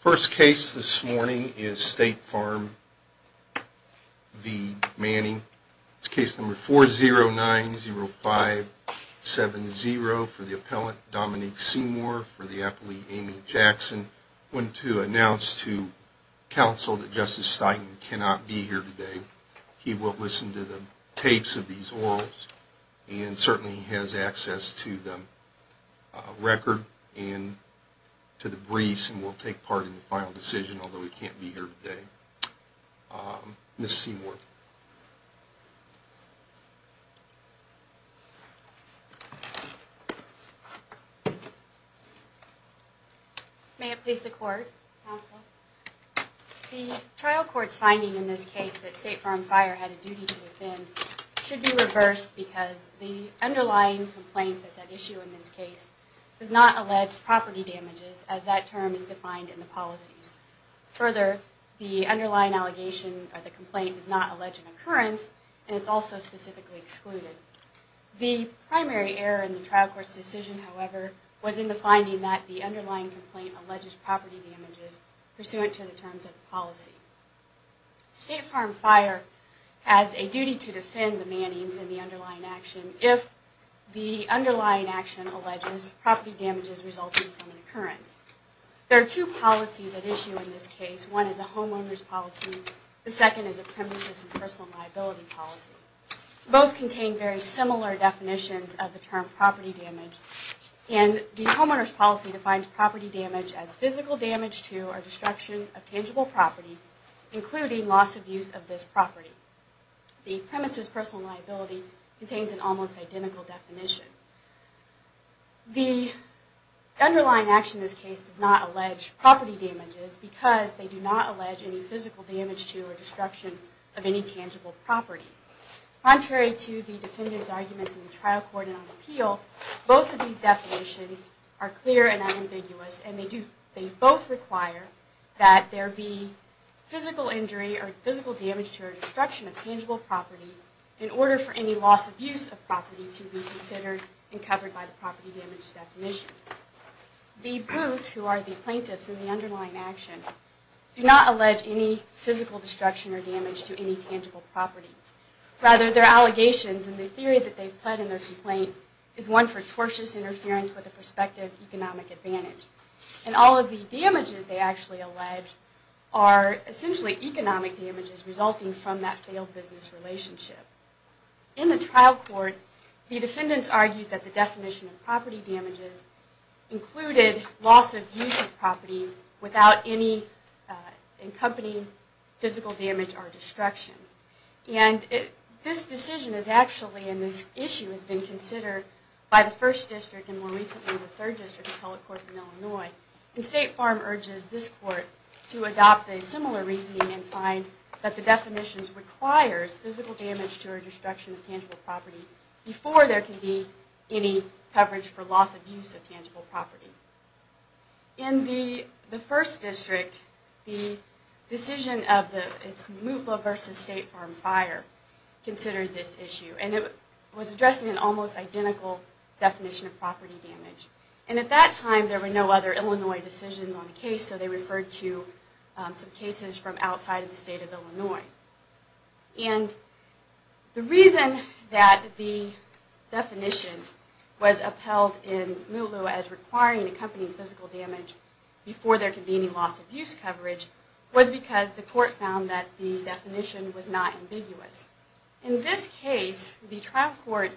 First case this morning is State Farm v. Manning. It's case number 4090570 for the appellant Dominique Seymour for the appellee Amy Jackson. I want to announce to counsel that Justice Steigman cannot be here today. He will listen to the tapes of these orals and certainly has access to the record and to the briefs. And will take part in the final decision although he can't be here today. Ms. Seymour. May it please the court. Counsel. The trial court's finding in this case that State Farm Fire had a duty to offend should be reversed because the underlying complaint that's at issue in this case does not allege property damages as that term is defined in the policies. Further, the underlying allegation or the complaint does not allege an occurrence and it's also specifically excluded. The primary error in the trial court's decision however was in the finding that the underlying complaint alleges property damages pursuant to the terms of the policy. State Farm Fire has a duty to defend the Mannings and the underlying action if the underlying action alleges property damages resulting from an occurrence. There are two policies at issue in this case. One is a homeowner's policy. The second is a premises and personal liability policy. Both contain very similar definitions of the term property damage and the homeowner's policy defines property damage as physical damage to or destruction of tangible property including loss of use of this property. The premises personal liability contains an almost identical definition. The underlying action in this case does not allege property damages because they do not allege any physical damage to or destruction of any tangible property. Contrary to the defendant's arguments in the trial court and on appeal, both of these definitions are clear and unambiguous and they both require that there be physical injury or physical damage to or destruction of tangible property in order for any loss of use of property to be considered. The proofs, who are the plaintiffs in the underlying action, do not allege any physical destruction or damage to any tangible property. Rather, their allegations and the theory that they've pled in their complaint is one for tortious interference with a prospective economic advantage. And all of the damages they actually allege are essentially economic damages resulting from that failed business relationship. In the trial court, the defendants argued that the definition of property damages included loss of use of property without any accompanying physical damage or destruction. And this decision is actually, and this issue has been considered by the 1st District and more recently the 3rd District appellate courts in Illinois. And State Farm urges this court to adopt a similar reasoning and find that the definitions requires physical damage to or destruction of tangible property before there can be any coverage for loss of use of tangible property. In the 1st District, the decision of Mootloo v. State Farm Fire considered this issue and it was addressing an almost identical definition of property damage. And at that time, there were no other Illinois decisions on the case, so they referred to some cases from outside of the state of Illinois. And the reason that the definition was upheld in Mootloo as requiring accompanying physical damage before there could be any loss of use coverage was because the court found that the definition was not ambiguous. In this case, the trial court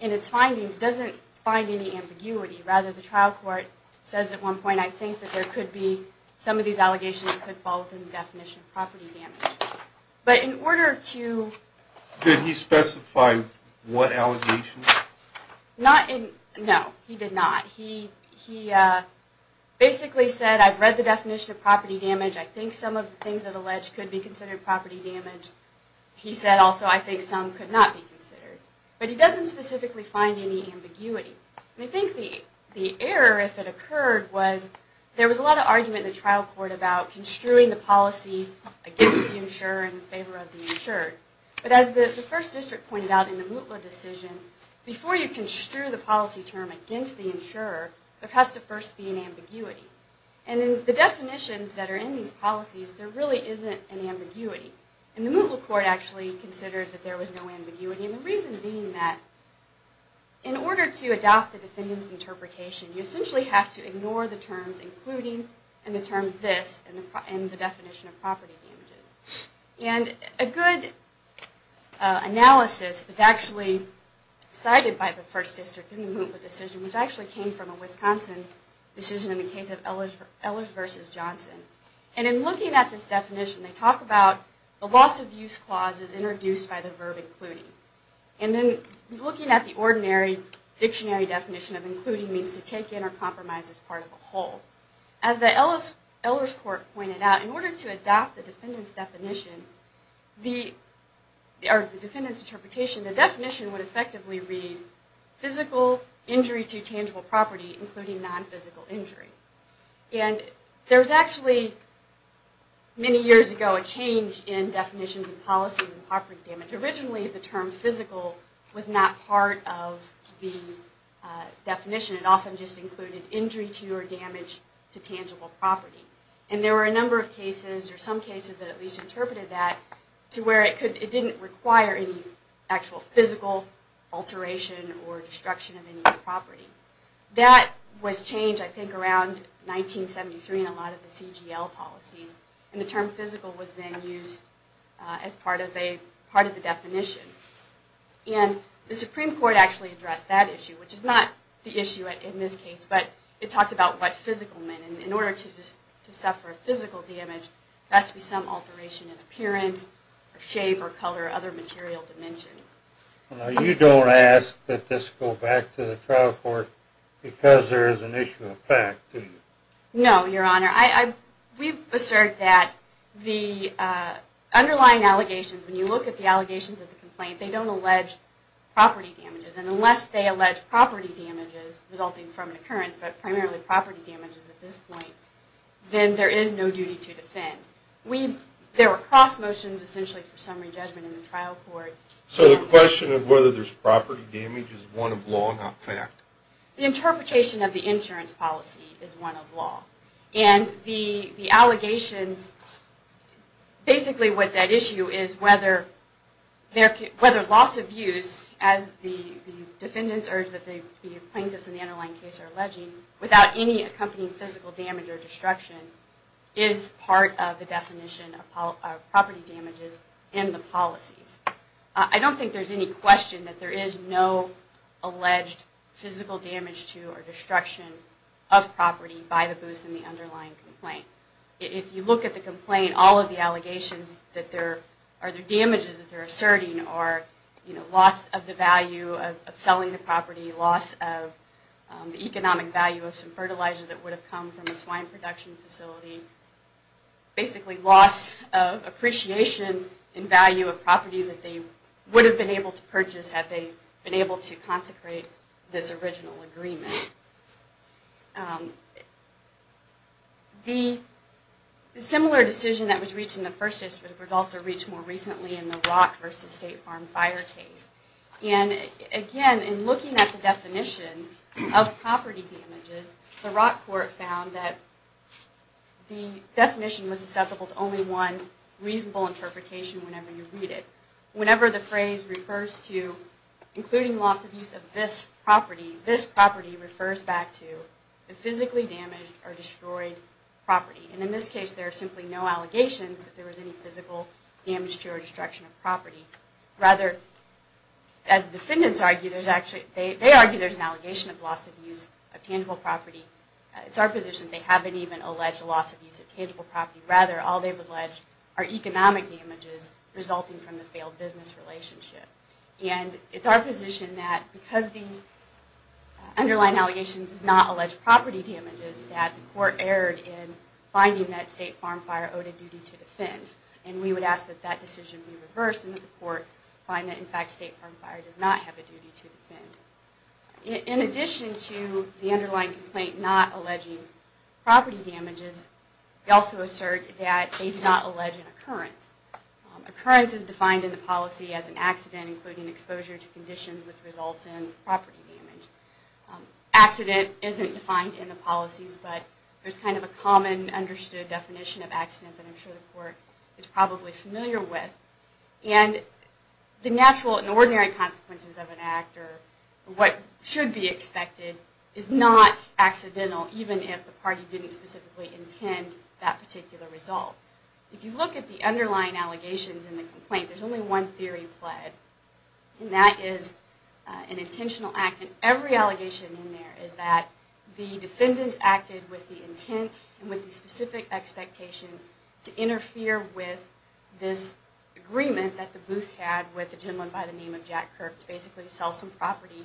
in its findings doesn't find any ambiguity. Rather, the trial court says at one point, I think that there could be, some of these allegations could fall within the definition of property damage. But in order to... Did he specify what allegations? No, he did not. He basically said, I've read the definition of property damage. I think some of the things that are alleged could be considered property damage. He said also, I think some could not be considered. But he doesn't specifically find any ambiguity. And I think the error, if it occurred, was there was a lot of argument in the trial court about construing the policy against the insurer in favor of the insured. But as the first district pointed out in the Mootloo decision, before you construe the policy term against the insurer, there has to first be an ambiguity. And in the definitions that are in these policies, there really isn't an ambiguity. And the Mootloo court actually considered that there was no ambiguity. And the reason being that in order to adopt the defendant's interpretation, you essentially have to ignore the terms including and the term this and the definition of property damages. And a good analysis was actually cited by the first district in the Mootloo decision, which actually came from a Wisconsin decision in the case of Ehlers versus Johnson. And in looking at this definition, they talk about the loss of use clauses introduced by the verb including. And then looking at the ordinary dictionary definition of including means to take in or compromise as part of a whole. As the Ehlers court pointed out, in order to adopt the defendant's interpretation, the definition would effectively read physical injury to tangible property, including non-physical injury. And there was actually, many years ago, a change in definitions and policies in property damage. Originally, the term physical was not part of the definition. It often just included injury to or damage to tangible property. And there were a number of cases or some cases that at least interpreted that to where it didn't require any actual physical alteration or destruction of any property. That was changed, I think, around 1973 in a lot of the CGL policies. And the term physical was then used as part of the definition. And the Supreme Court actually addressed that issue, which is not the issue in this case, but it talked about what physical meant. And in order to suffer physical damage, there has to be some alteration in appearance or shape or color or other material dimensions. Now, you don't ask that this go back to the trial court because there is an issue of fact, do you? No, Your Honor. We've asserted that the underlying allegations, when you look at the allegations of the complaint, they don't allege property damages. And unless they allege property damages resulting from an occurrence, but primarily property damages at this point, then there is no duty to defend. There were cross motions, essentially, for summary judgment in the trial court. So the question of whether there's property damage is one of law, not fact? The interpretation of the insurance policy is one of law. And the allegations, basically what's at issue is whether loss of use, as the defendants urge that the plaintiffs in the underlying case are alleging, without any accompanying physical damage or destruction, is part of the definition of property damages in the policies. I don't think there's any question that there is no alleged physical damage to or destruction of property by the booths in the underlying complaint. If you look at the complaint, all of the allegations that there are the damages that they're asserting are loss of the value of selling the property, loss of the economic value of some fertilizer that would have come from a swine production facility, basically loss of appreciation in value of property that they would have been able to purchase had they been able to consecrate this original agreement. The similar decision that was reached in the first case was also reached more recently in the Rock v. State Farm Fire case. And again, in looking at the definition of property damages, the Rock court found that the definition was susceptible to only one reasonable interpretation whenever you read it. Whenever the phrase refers to including loss of use of this property, this property refers back to the physically damaged or destroyed property. And in this case, there are simply no allegations that there was any physical damage to or destruction of property. Rather, as the defendants argue, they argue there's an allegation of loss of use of tangible property. It's our position they haven't even alleged loss of use of tangible property. Rather, all they've alleged are economic damages resulting from the failed business relationship. And it's our position that because the underlying allegation does not allege property damages, that the court erred in finding that State Farm Fire owed a duty to defend. And we would ask that that decision be reversed and that the court find that, in fact, State Farm Fire does not have a duty to defend. In addition to the underlying complaint not alleging property damages, we also assert that they did not allege an occurrence. Occurrence is defined in the policy as an accident including exposure to conditions which results in property damage. Accident isn't defined in the policies, but there's kind of a common, understood definition of accident that I'm sure the court is probably familiar with. And the natural and ordinary consequences of an act or what should be expected is not accidental, even if the party didn't specifically intend that particular result. If you look at the underlying allegations in the complaint, there's only one theory pled. And that is an intentional act. And every allegation in there is that the defendants acted with the intent and with the specific expectation to interfere with this agreement that the booth had with the gentleman by the name of Jack Kirk to basically sell some property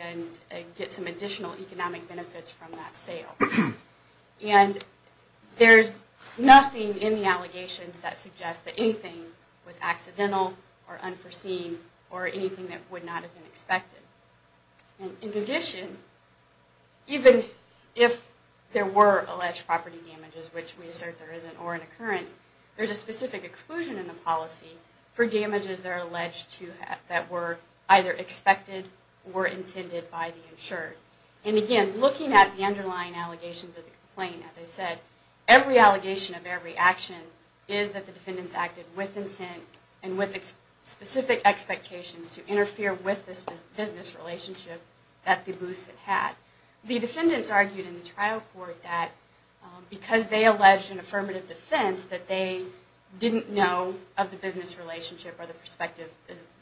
and get some additional economic benefits from that sale. And there's nothing in the allegations that suggests that anything was accidental or unforeseen or anything that would not have been expected. In addition, even if there were alleged property damages, which we assert there isn't or an occurrence, there's a specific exclusion in the policy for damages that are alleged to have, that were either expected or intended by the insured. And again, looking at the underlying allegations of the complaint, as I said, every allegation of every action is that the defendants acted with intent and with specific expectations to interfere with this business relationship that the booth had. The defendants argued in the trial court that because they alleged an affirmative defense that they didn't know of the business relationship or the prospective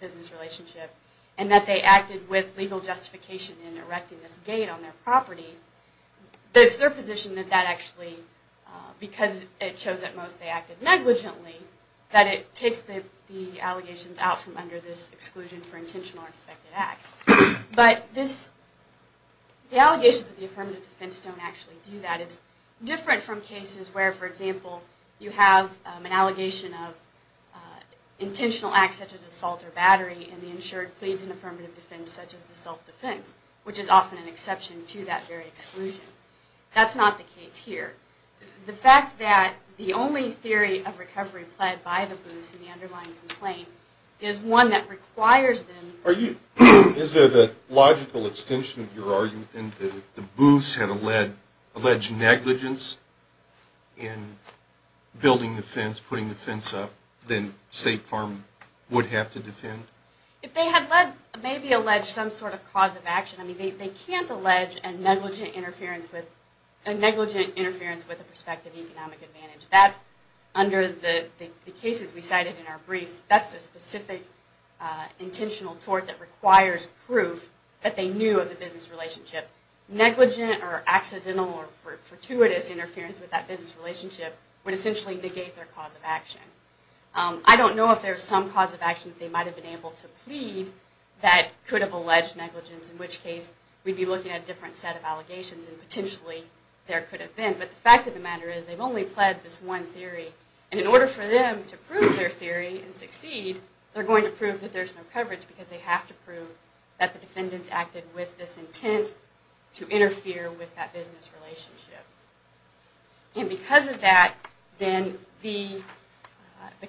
business relationship and that they acted with legal justification in erecting this gate on their property, that it's their position that that actually, because it shows at most they acted negligently, that it takes the allegations out from under this exclusion for intentional or expected acts. But this, the allegations of the affirmative defense don't actually do that. It's different from cases where, for example, you have an allegation of intentional acts such as assault or battery and the insured pleads an affirmative defense such as the self-defense, which is often an exception to that very exclusion. That's not the case here. The fact that the only theory of recovery pled by the booths in the underlying complaint is one that requires them... Is it a logical extension of your argument that if the booths had alleged negligence in building the fence, putting the fence up, then State Farm would have to defend? If they had maybe alleged some sort of cause of action, they can't allege a negligent interference with a prospective economic advantage. That's under the cases we cited in our briefs. That's a specific intentional tort that requires proof that they knew of the business relationship. Negligent or accidental or fortuitous interference with that business relationship would essentially negate their cause of action. I don't know if there's some cause of action they might have been able to plead that could have alleged negligence, in which case we'd be looking at a different set of allegations and potentially there could have been. But the fact of the matter is they've only pled this one theory. And in order for them to prove their theory and succeed, they're going to prove that there's no coverage because they have to prove that the defendants acted with this intent to interfere with that business relationship. And because of that, then the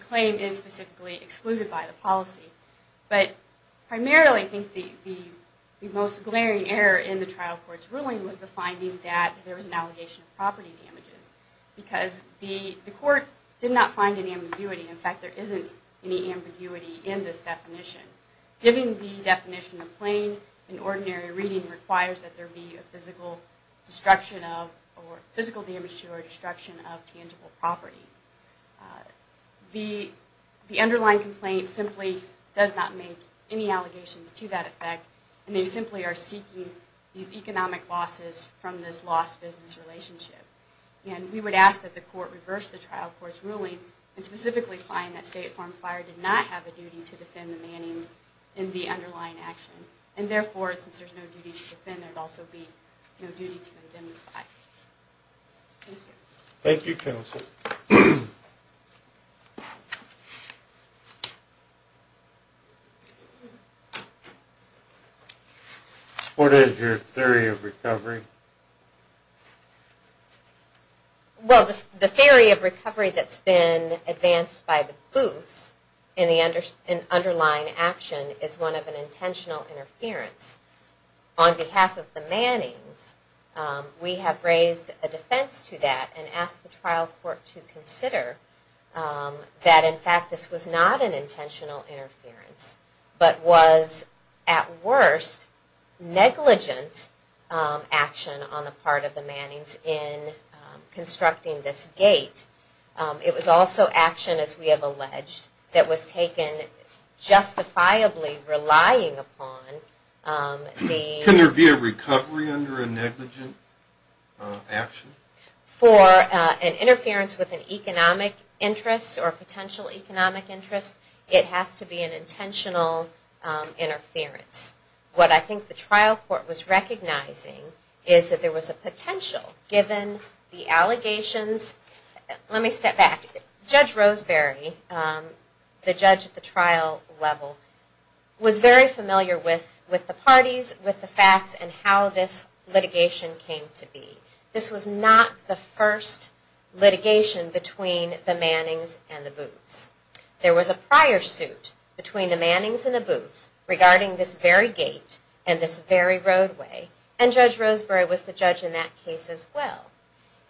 claim is specifically excluded by the policy. But primarily, I think the most glaring error in the trial court's ruling was the finding that there was an allegation of property damages. Because the court did not find any ambiguity. In fact, there isn't any ambiguity in this definition. Giving the definition of plain and ordinary reading requires that there be a physical destruction of, or physical damage to, or destruction of tangible property. The underlying complaint simply does not make any allegations to that effect, and they simply are seeking these economic losses from this lost business relationship. And we would ask that the court reverse the trial court's ruling, and specifically find that State Farm Fire did not have a duty to defend the Mannings in the underlying action. And therefore, since there's no duty to defend, there'd also be no duty to identify. Thank you. Thank you, counsel. What is your theory of recovery? Well, the theory of recovery that's been advanced by the booths in the underlying action is one of an intentional interference. On behalf of the Mannings, we have raised a defense to that, and asked the trial court to consider that, in fact, this was not an intentional interference, but was, at worst, negligent action on the part of the Mannings in constructing this gate. It was also action, as we have alleged, that was taken justifiably relying upon the... Can there be a recovery under a negligent action? For an interference with an economic interest, or potential economic interest, it has to be an intentional interference. What I think the trial court was recognizing is that there was a potential, given the allegations... Let me step back. Judge Roseberry, the judge at the trial level, was very familiar with the parties, with the facts, and how this litigation came to be. This was not the first litigation between the Mannings and the booths. There was a prior suit between the Mannings and the booths regarding this very gate and this very roadway, and Judge Roseberry was the judge in that case as well.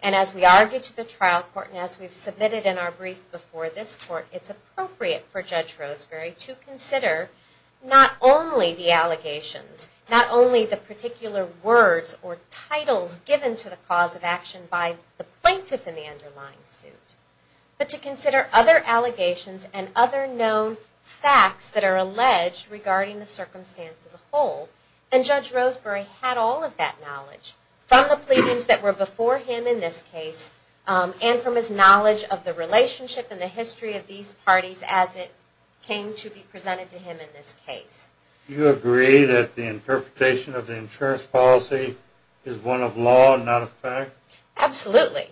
As we argue to the trial court, and as we've submitted in our brief before this court, it's appropriate for Judge Roseberry to consider not only the allegations, not only the particular words or titles given to the cause of action by the plaintiff in the underlying suit, but to consider other allegations and other known facts that are alleged regarding the circumstance as a whole. And Judge Roseberry had all of that knowledge from the pleadings that were before him in this case, and from his knowledge of the relationship and the history of these parties as it came to be presented to him in this case. Do you agree that the interpretation of the insurance policy is one of law and not of fact? Absolutely.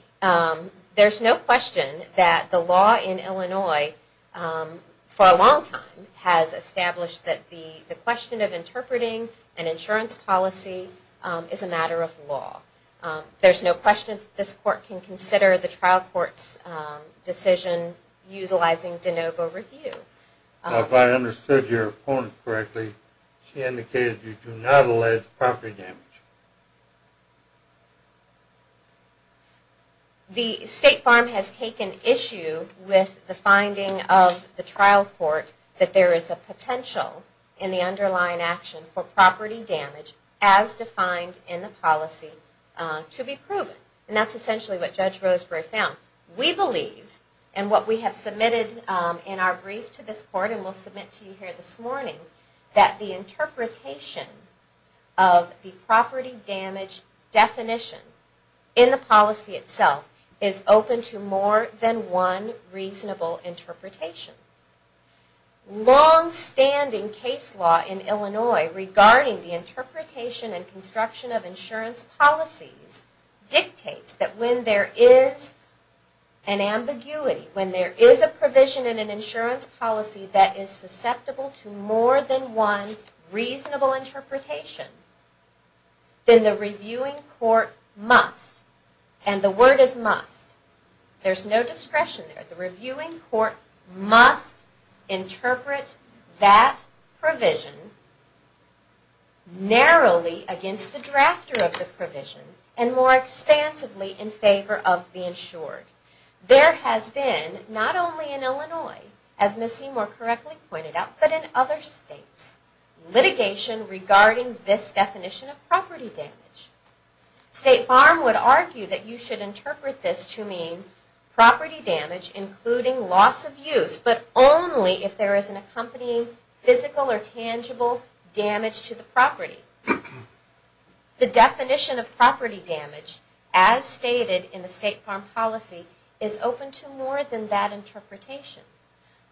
There's no question that the law in Illinois, for a long time, has established that the question of interpreting an insurance policy is a matter of law. There's no question that this court can consider the trial court's decision utilizing de novo review. If I understood your opponent correctly, she indicated you do not allege property damage. The State Farm has taken issue with the finding of the trial court that there is a potential in the underlying action for property damage, as defined in the policy, to be proven. And that's essentially what Judge Roseberry found. We believe, and what we have submitted in our brief to this court, and we'll submit to you here this morning, that the interpretation of the property damage definition in the policy itself is open to more than one reasonable interpretation. Longstanding case law in Illinois regarding the interpretation and construction of insurance policies dictates that when there is an ambiguity, when there is a provision in an insurance policy that is susceptible to more than one reasonable interpretation, then the reviewing court must, and the word is must. There's no discretion there. The reviewing court must interpret that provision narrowly against the drafter of the provision There has been, not only in Illinois, as Ms. Seymour correctly pointed out, but in other states, litigation regarding this definition of property damage. State Farm would argue that you should interpret this to mean property damage including loss of use, but only if there is an accompanying physical or tangible damage to the property. The definition of property damage, as stated in the State Farm policy, is open to more than that interpretation.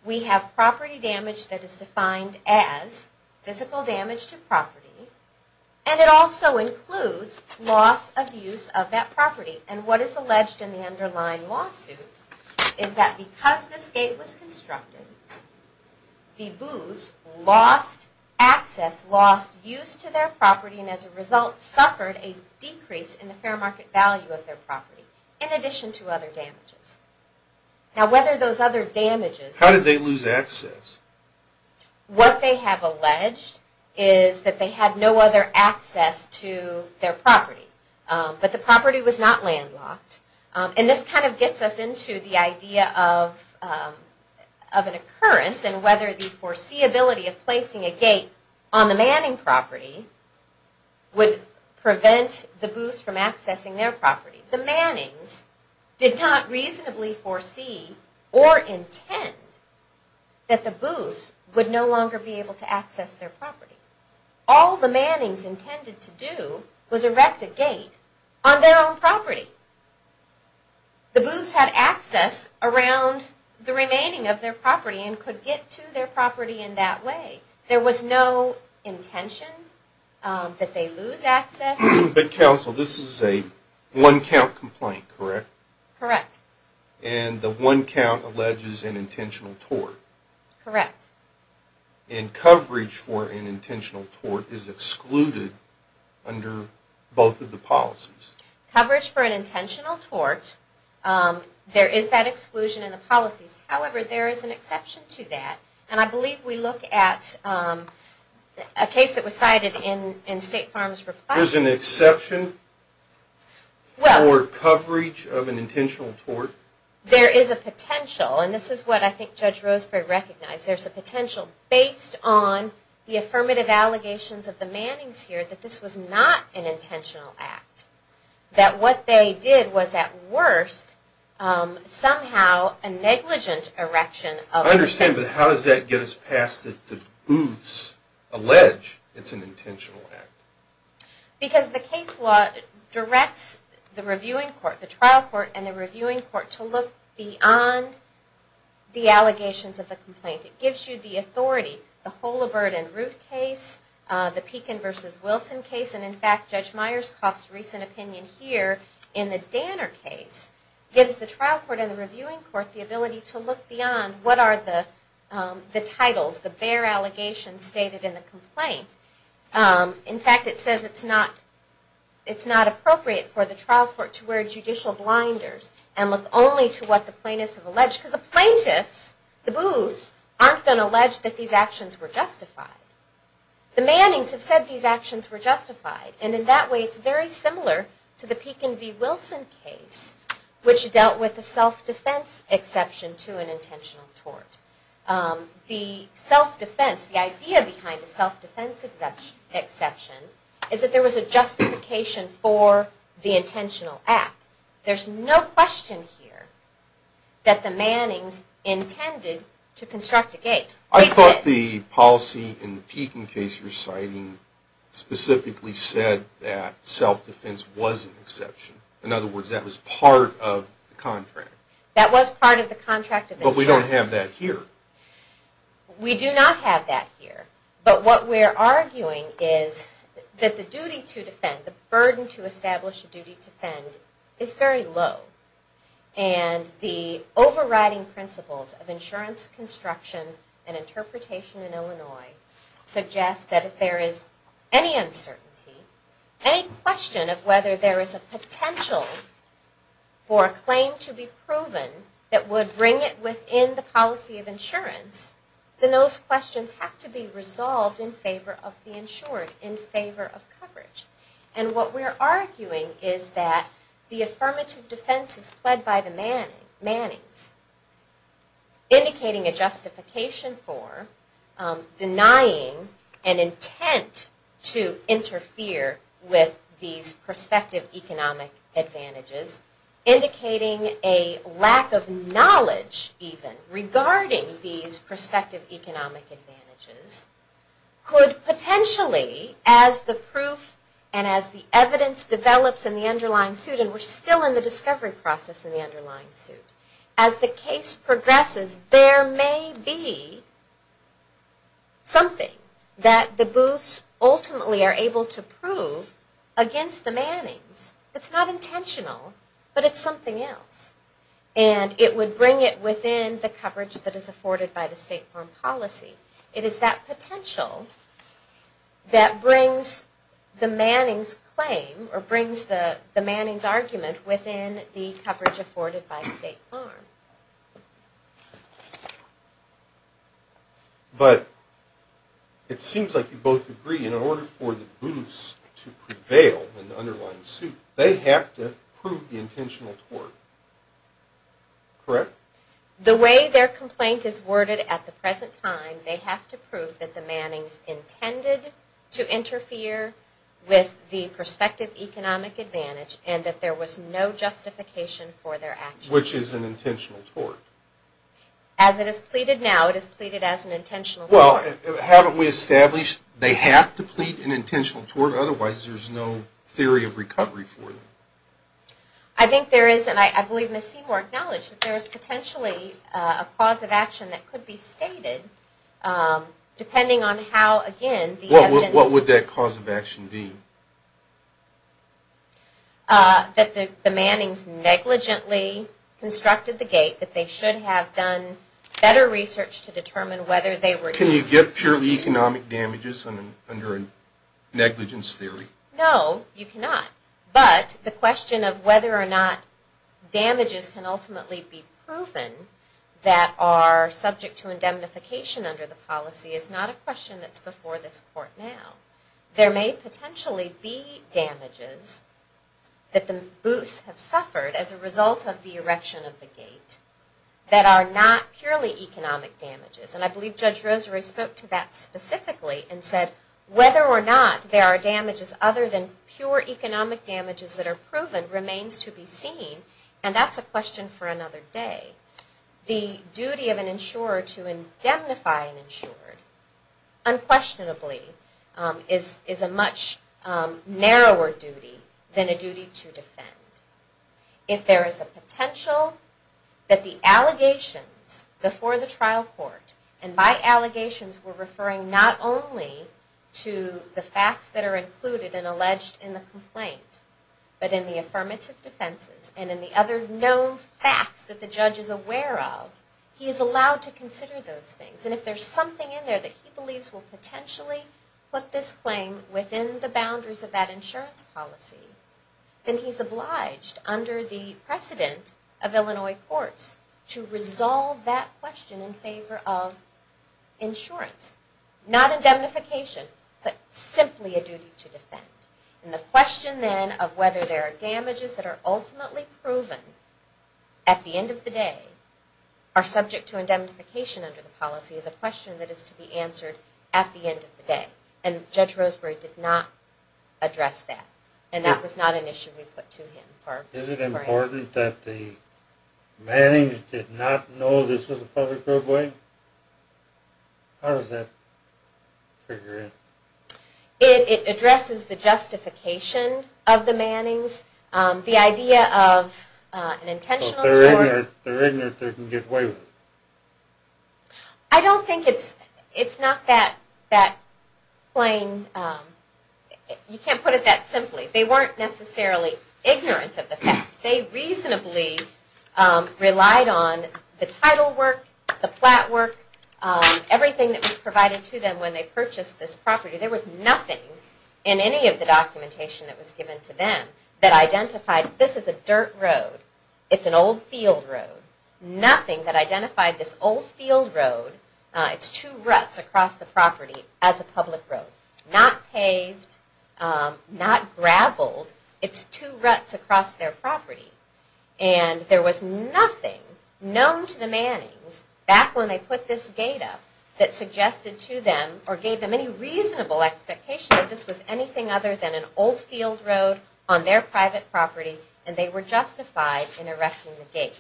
We have property damage that is defined as physical damage to property, and it also includes loss of use of that property. And what is alleged in the underlying lawsuit is that because this gate was constructed, the booths lost access, lost use to their property, and as a result suffered a decrease in the fair market value of their property, in addition to other damages. Now whether those other damages... How did they lose access? What they have alleged is that they had no other access to their property, but the property was not landlocked. And this kind of gets us into the idea of an occurrence and whether the foreseeability of placing a gate on the manning property would prevent the booths from accessing their property. The mannings did not reasonably foresee or intend that the booths would no longer be able to access their property. All the mannings intended to do was erect a gate on their own property. The booths had access around the remaining of their property and could get to their property in that way. There was no intention that they lose access. But counsel, this is a one count complaint, correct? Correct. And the one count alleges an intentional tort. Correct. And coverage for an intentional tort is excluded under both of the policies. Coverage for an intentional tort, there is that exclusion in the policies. However, there is an exception to that. And I believe we look at a case that was cited in State Farm's reply. There's an exception for coverage of an intentional tort? There is a potential. And this is what I think Judge Roseberry recognized. There's a potential based on the affirmative allegations of the mannings here that this was not an intentional act. That what they did was at worst somehow a negligent erection of the booths. I understand, but how does that get us past that the booths allege it's an intentional act? Because the case law directs the reviewing court, the trial court, and the reviewing court to look beyond the allegations of the complaint. It gives you the authority. The Holabird and Root case, the Pekin versus Wilson case, and in fact Judge Myerscough's recent opinion here in the Danner case gives the trial court and the reviewing court the ability to look beyond what are the titles, the bare allegations stated in the complaint. In fact, it says it's not appropriate for the trial court to wear judicial blinders and look only to what the plaintiffs have alleged. Because the plaintiffs, the booths, aren't going to allege that these actions were justified. The mannings have said these actions were justified, and in that way it's very similar to the Pekin v. Wilson case, which dealt with the self-defense exception to an intentional tort. The self-defense, the idea behind the self-defense exception is that there was a justification for the intentional act. There's no question here that the mannings intended to construct a gate. I thought the policy in the Pekin case you're citing specifically said that self-defense was an exception. In other words, that was part of the contract. That was part of the contract of insurance. But we don't have that here. We do not have that here. But what we're arguing is that the duty to defend, the burden to establish a duty to defend, is very low. And the overriding principles of insurance construction and interpretation in Illinois suggest that if there is any uncertainty, any question of whether there is a potential for a claim to be proven that would bring it within the policy of insurance, then those questions have to be resolved in favor of the insured, in favor of coverage. And what we're arguing is that the affirmative defense is pled by the mannings, indicating a justification for denying an intent to interfere with these prospective economic advantages, indicating a lack of knowledge, even, regarding these prospective economic advantages, could potentially, as the proof and as the evidence develops in the underlying suit, and we're still in the discovery process in the underlying suit, as the case progresses, there may be something that the Booths ultimately are able to prove against the mannings. It's not intentional, but it's something else. And it would bring it within the coverage that is afforded by the State Farm policy. It is that potential that brings the mannings claim, or brings the mannings argument within the coverage afforded by State Farm. But it seems like you both agree, in order for the Booths to prevail in the underlying suit, they have to prove the intentional tort, correct? The way their complaint is worded at the present time, they have to prove that the mannings intended to interfere with the prospective economic advantage, and that there was no justification for their actions. Which is an intentional tort. As it is pleaded now, it is pleaded as an intentional tort. Well, haven't we established they have to plead an intentional tort, otherwise there's no theory of recovery for them. I think there is, and I believe Ms. Seymour acknowledged, that there is potentially a cause of action that could be stated, depending on how, again, the evidence... What would that cause of action be? That the mannings negligently constructed the gate, that they should have done better research to determine whether they were... Can you get purely economic damages under a negligence theory? No, you cannot. But the question of whether or not damages can ultimately be proven that are subject to indemnification under the policy is not a question that's before this court now. There may potentially be damages that the Booths have suffered as a result of the erection of the gate that are not purely economic damages. And I believe Judge Rosary spoke to that specifically and said, whether or not there are damages other than pure economic damages that are proven remains to be seen, and that's a question for another day. The duty of an insurer to indemnify an insured, unquestionably, is a much narrower duty than a duty to defend. If there is a potential that the allegations before the trial court, and by allegations we're referring not only to the facts that are included and alleged in the complaint, but in the affirmative defenses and in the other known facts that the judge is aware of, he is allowed to consider those things. And if there's something in there that he believes will potentially put this claim within the boundaries of that insurance policy, then he's obliged under the precedent of Illinois courts to resolve that question in favor of insurance. Not indemnification, but simply a duty to defend. And the question then of whether there are damages that are ultimately proven at the end of the day are subject to indemnification under the policy is a question that is to be answered at the end of the day. And Judge Roseberry did not address that. And that was not an issue we put to him. Is it important that the Mannings did not know this was a public roadway? How does that figure in? It addresses the justification of the Mannings, the idea of an intentional... So if they're ignorant, they can get away with it. I don't think it's not that plain. You can't put it that simply. They weren't necessarily ignorant of the fact. They reasonably relied on the title work, the plat work, everything that was provided to them when they purchased this property. There was nothing in any of the documentation that was given to them that identified this is a dirt road. It's an old field road. Nothing that identified this old field road. It's two ruts across the property as a public road. Not paved, not graveled. It's two ruts across their property. And there was nothing known to the Mannings back when they put this gate up that suggested to them or gave them any reasonable expectation that this was anything other than an old field road on their private property and they were justified in erecting the gate,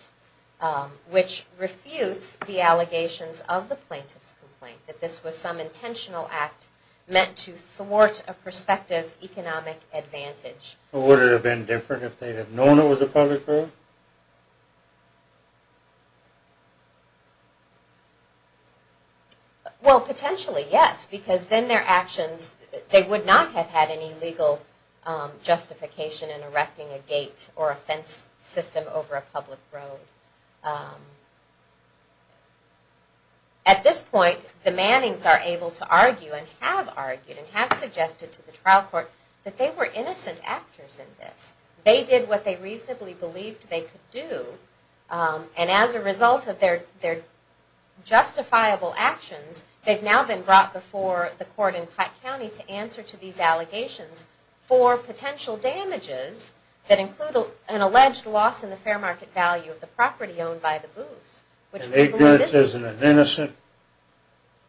which refutes the allegations of the plaintiff's complaint that this was some intentional act meant to thwart a prospective economic advantage. Would it have been different if they had known it was a public road? Well, potentially, yes, because then their actions... would not have had any legal justification in erecting a gate or a fence system over a public road. At this point, the Mannings are able to argue and have argued and have suggested to the trial court that they were innocent actors in this. They did what they reasonably believed they could do and as a result of their justifiable actions, they've now been brought before the court in Pike County to answer to these allegations for potential damages that include an alleged loss in the fair market value of the property owned by the Booths. And ignorance is an innocent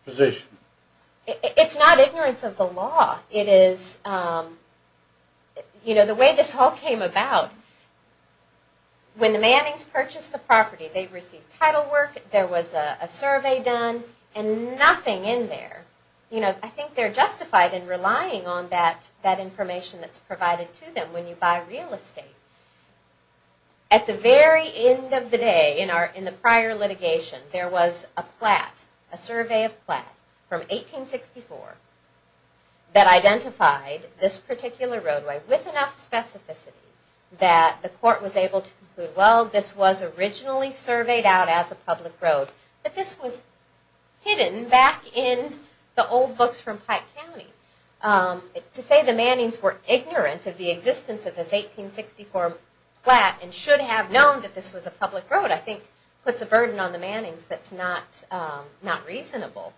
position. It's not ignorance of the law. It is... you know, the way this all came about, when the Mannings purchased the property, they received title work, there was a survey done, and nothing in there. You know, I think they're justified in relying on that information that's provided to them when you buy real estate. At the very end of the day, in the prior litigation, there was a plat, a survey of plat from 1864 that identified this particular roadway with enough specificity that the court was able to conclude, well, this was originally surveyed out as a public road, but this was hidden back in the old books from Pike County. To say the Mannings were ignorant of the existence of this 1864 plat and should have known that this was a public road, I think puts a burden on the Mannings that's not reasonable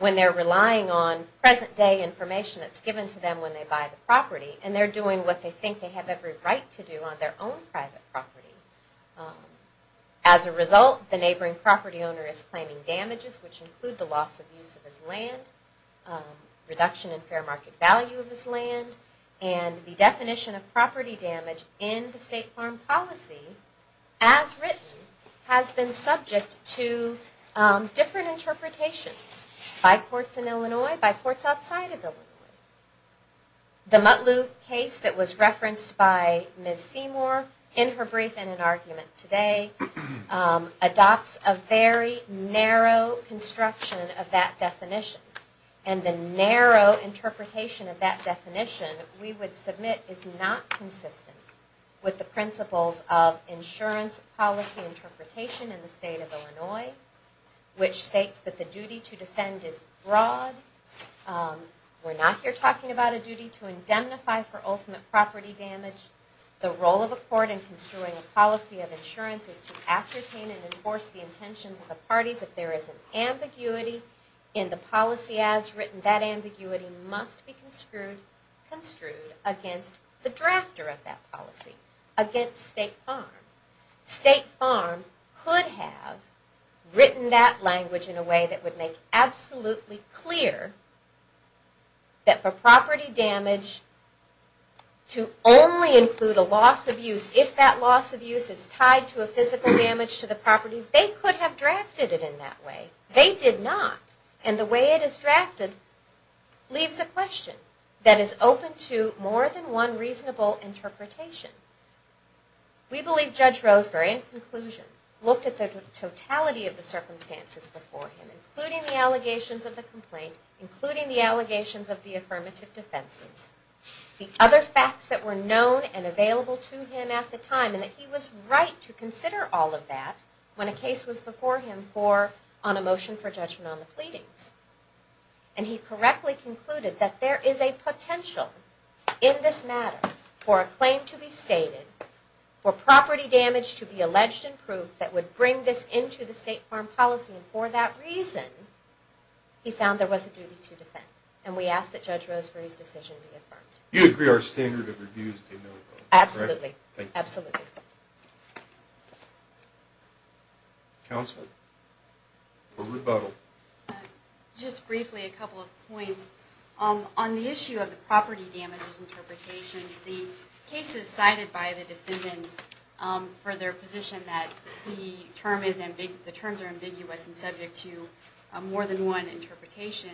when they're relying on present-day information that's given to them when they buy the property, and they're doing what they think they have every right to do on their own private property. As a result, the neighboring property owner is claiming damages, which include the loss of use of his land, reduction in fair market value of his land, and the definition of property damage in the state farm policy, as written, has been subject to different interpretations by courts in Illinois, by courts outside of Illinois. The Mutlu case that was referenced by Ms. Seymour in her brief and in argument today adopts a very narrow construction of that definition, and the narrow interpretation of that definition, we would submit, is not consistent with the principles of insurance policy interpretation in the state of Illinois, which states that the duty to defend is broad. We're not here talking about a duty to indemnify for ultimate property damage. The role of a court in construing a policy of insurance is to ascertain and enforce the intentions of the parties. If there is an ambiguity in the policy as written, that ambiguity must be construed against the drafter of that policy, against state farm. State farm could have written that language in a way that would make absolutely clear that for property damage to only include a loss of use, if that loss of use is tied to a physical damage to the property, they could have drafted it in that way. They did not, and the way it is drafted leaves a question that is open to more than one reasonable interpretation. We believe Judge Roseberry, in conclusion, looked at the totality of the circumstances before him, including the allegations of the complaint, including the allegations of the affirmative defenses, the other facts that were known and available to him at the time, and that he was right to consider all of that when a case was before him on a motion for judgment on the pleadings. And he correctly concluded that there is a potential in this matter for a claim to be stated for property damage to be alleged and proved that would bring this into the state farm policy, and for that reason, he found there was a duty to defend. And we ask that Judge Roseberry's decision be affirmed. You agree our standard of review is to a no vote, correct? Absolutely, absolutely. Counsel, for rebuttal. Just briefly, a couple of points. On the issue of the property damages interpretation, the cases cited by the defendants for their position that the terms are ambiguous and subject to more than one interpretation,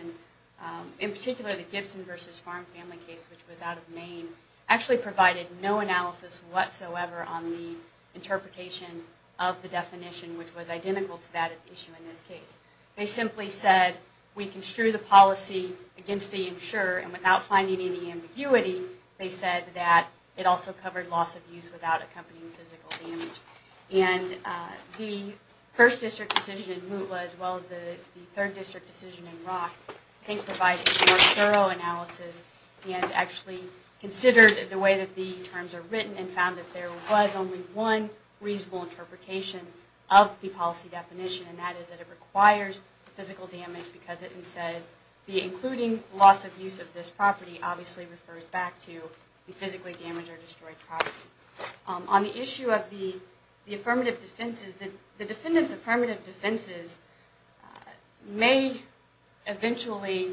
in particular, the Gibson v. Farm Family case, which was out of Maine, actually provided no analysis whatsoever on the interpretation of the definition, which was identical to that issue in this case. They simply said, we construe the policy against the insurer, and without finding any ambiguity, they said that it also covered loss of use without accompanying physical damage. And the first district decision in Mootla, as well as the third district decision in Rock, I think provided more thorough analysis and actually considered the way that the terms are written and found that there was only one reasonable interpretation of the policy definition, and that is that it requires physical damage because it says the including loss of use of this property obviously refers back to the physically damaged or destroyed property. On the issue of the affirmative defenses, the defendants' affirmative defenses may eventually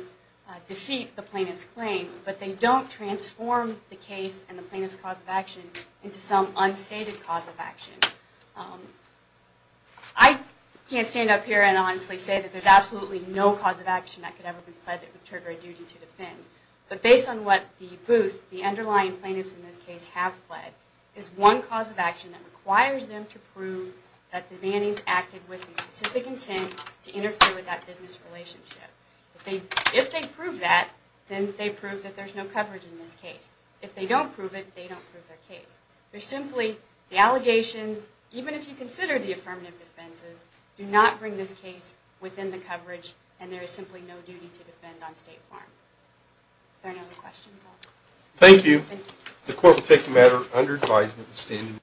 defeat the plaintiff's claim, but they don't transform the case and the plaintiff's cause of action into some unstated cause of action. I can't stand up here and honestly say that there's absolutely no cause of action that could ever be pled that would trigger a duty to defend, but based on what the booth, the underlying plaintiffs in this case have pled, is one cause of action that requires them to prove that the mannings acted with a specific intent to interfere with that business relationship. If they prove that, then they prove that there's no coverage in this case. If they don't prove it, they don't prove their case. They're simply, the allegations, even if you consider the affirmative defenses, do not bring this case within the coverage and there is simply no duty to defend on State Farm. Are there no other questions? Thank you. The court will take the matter under advisement.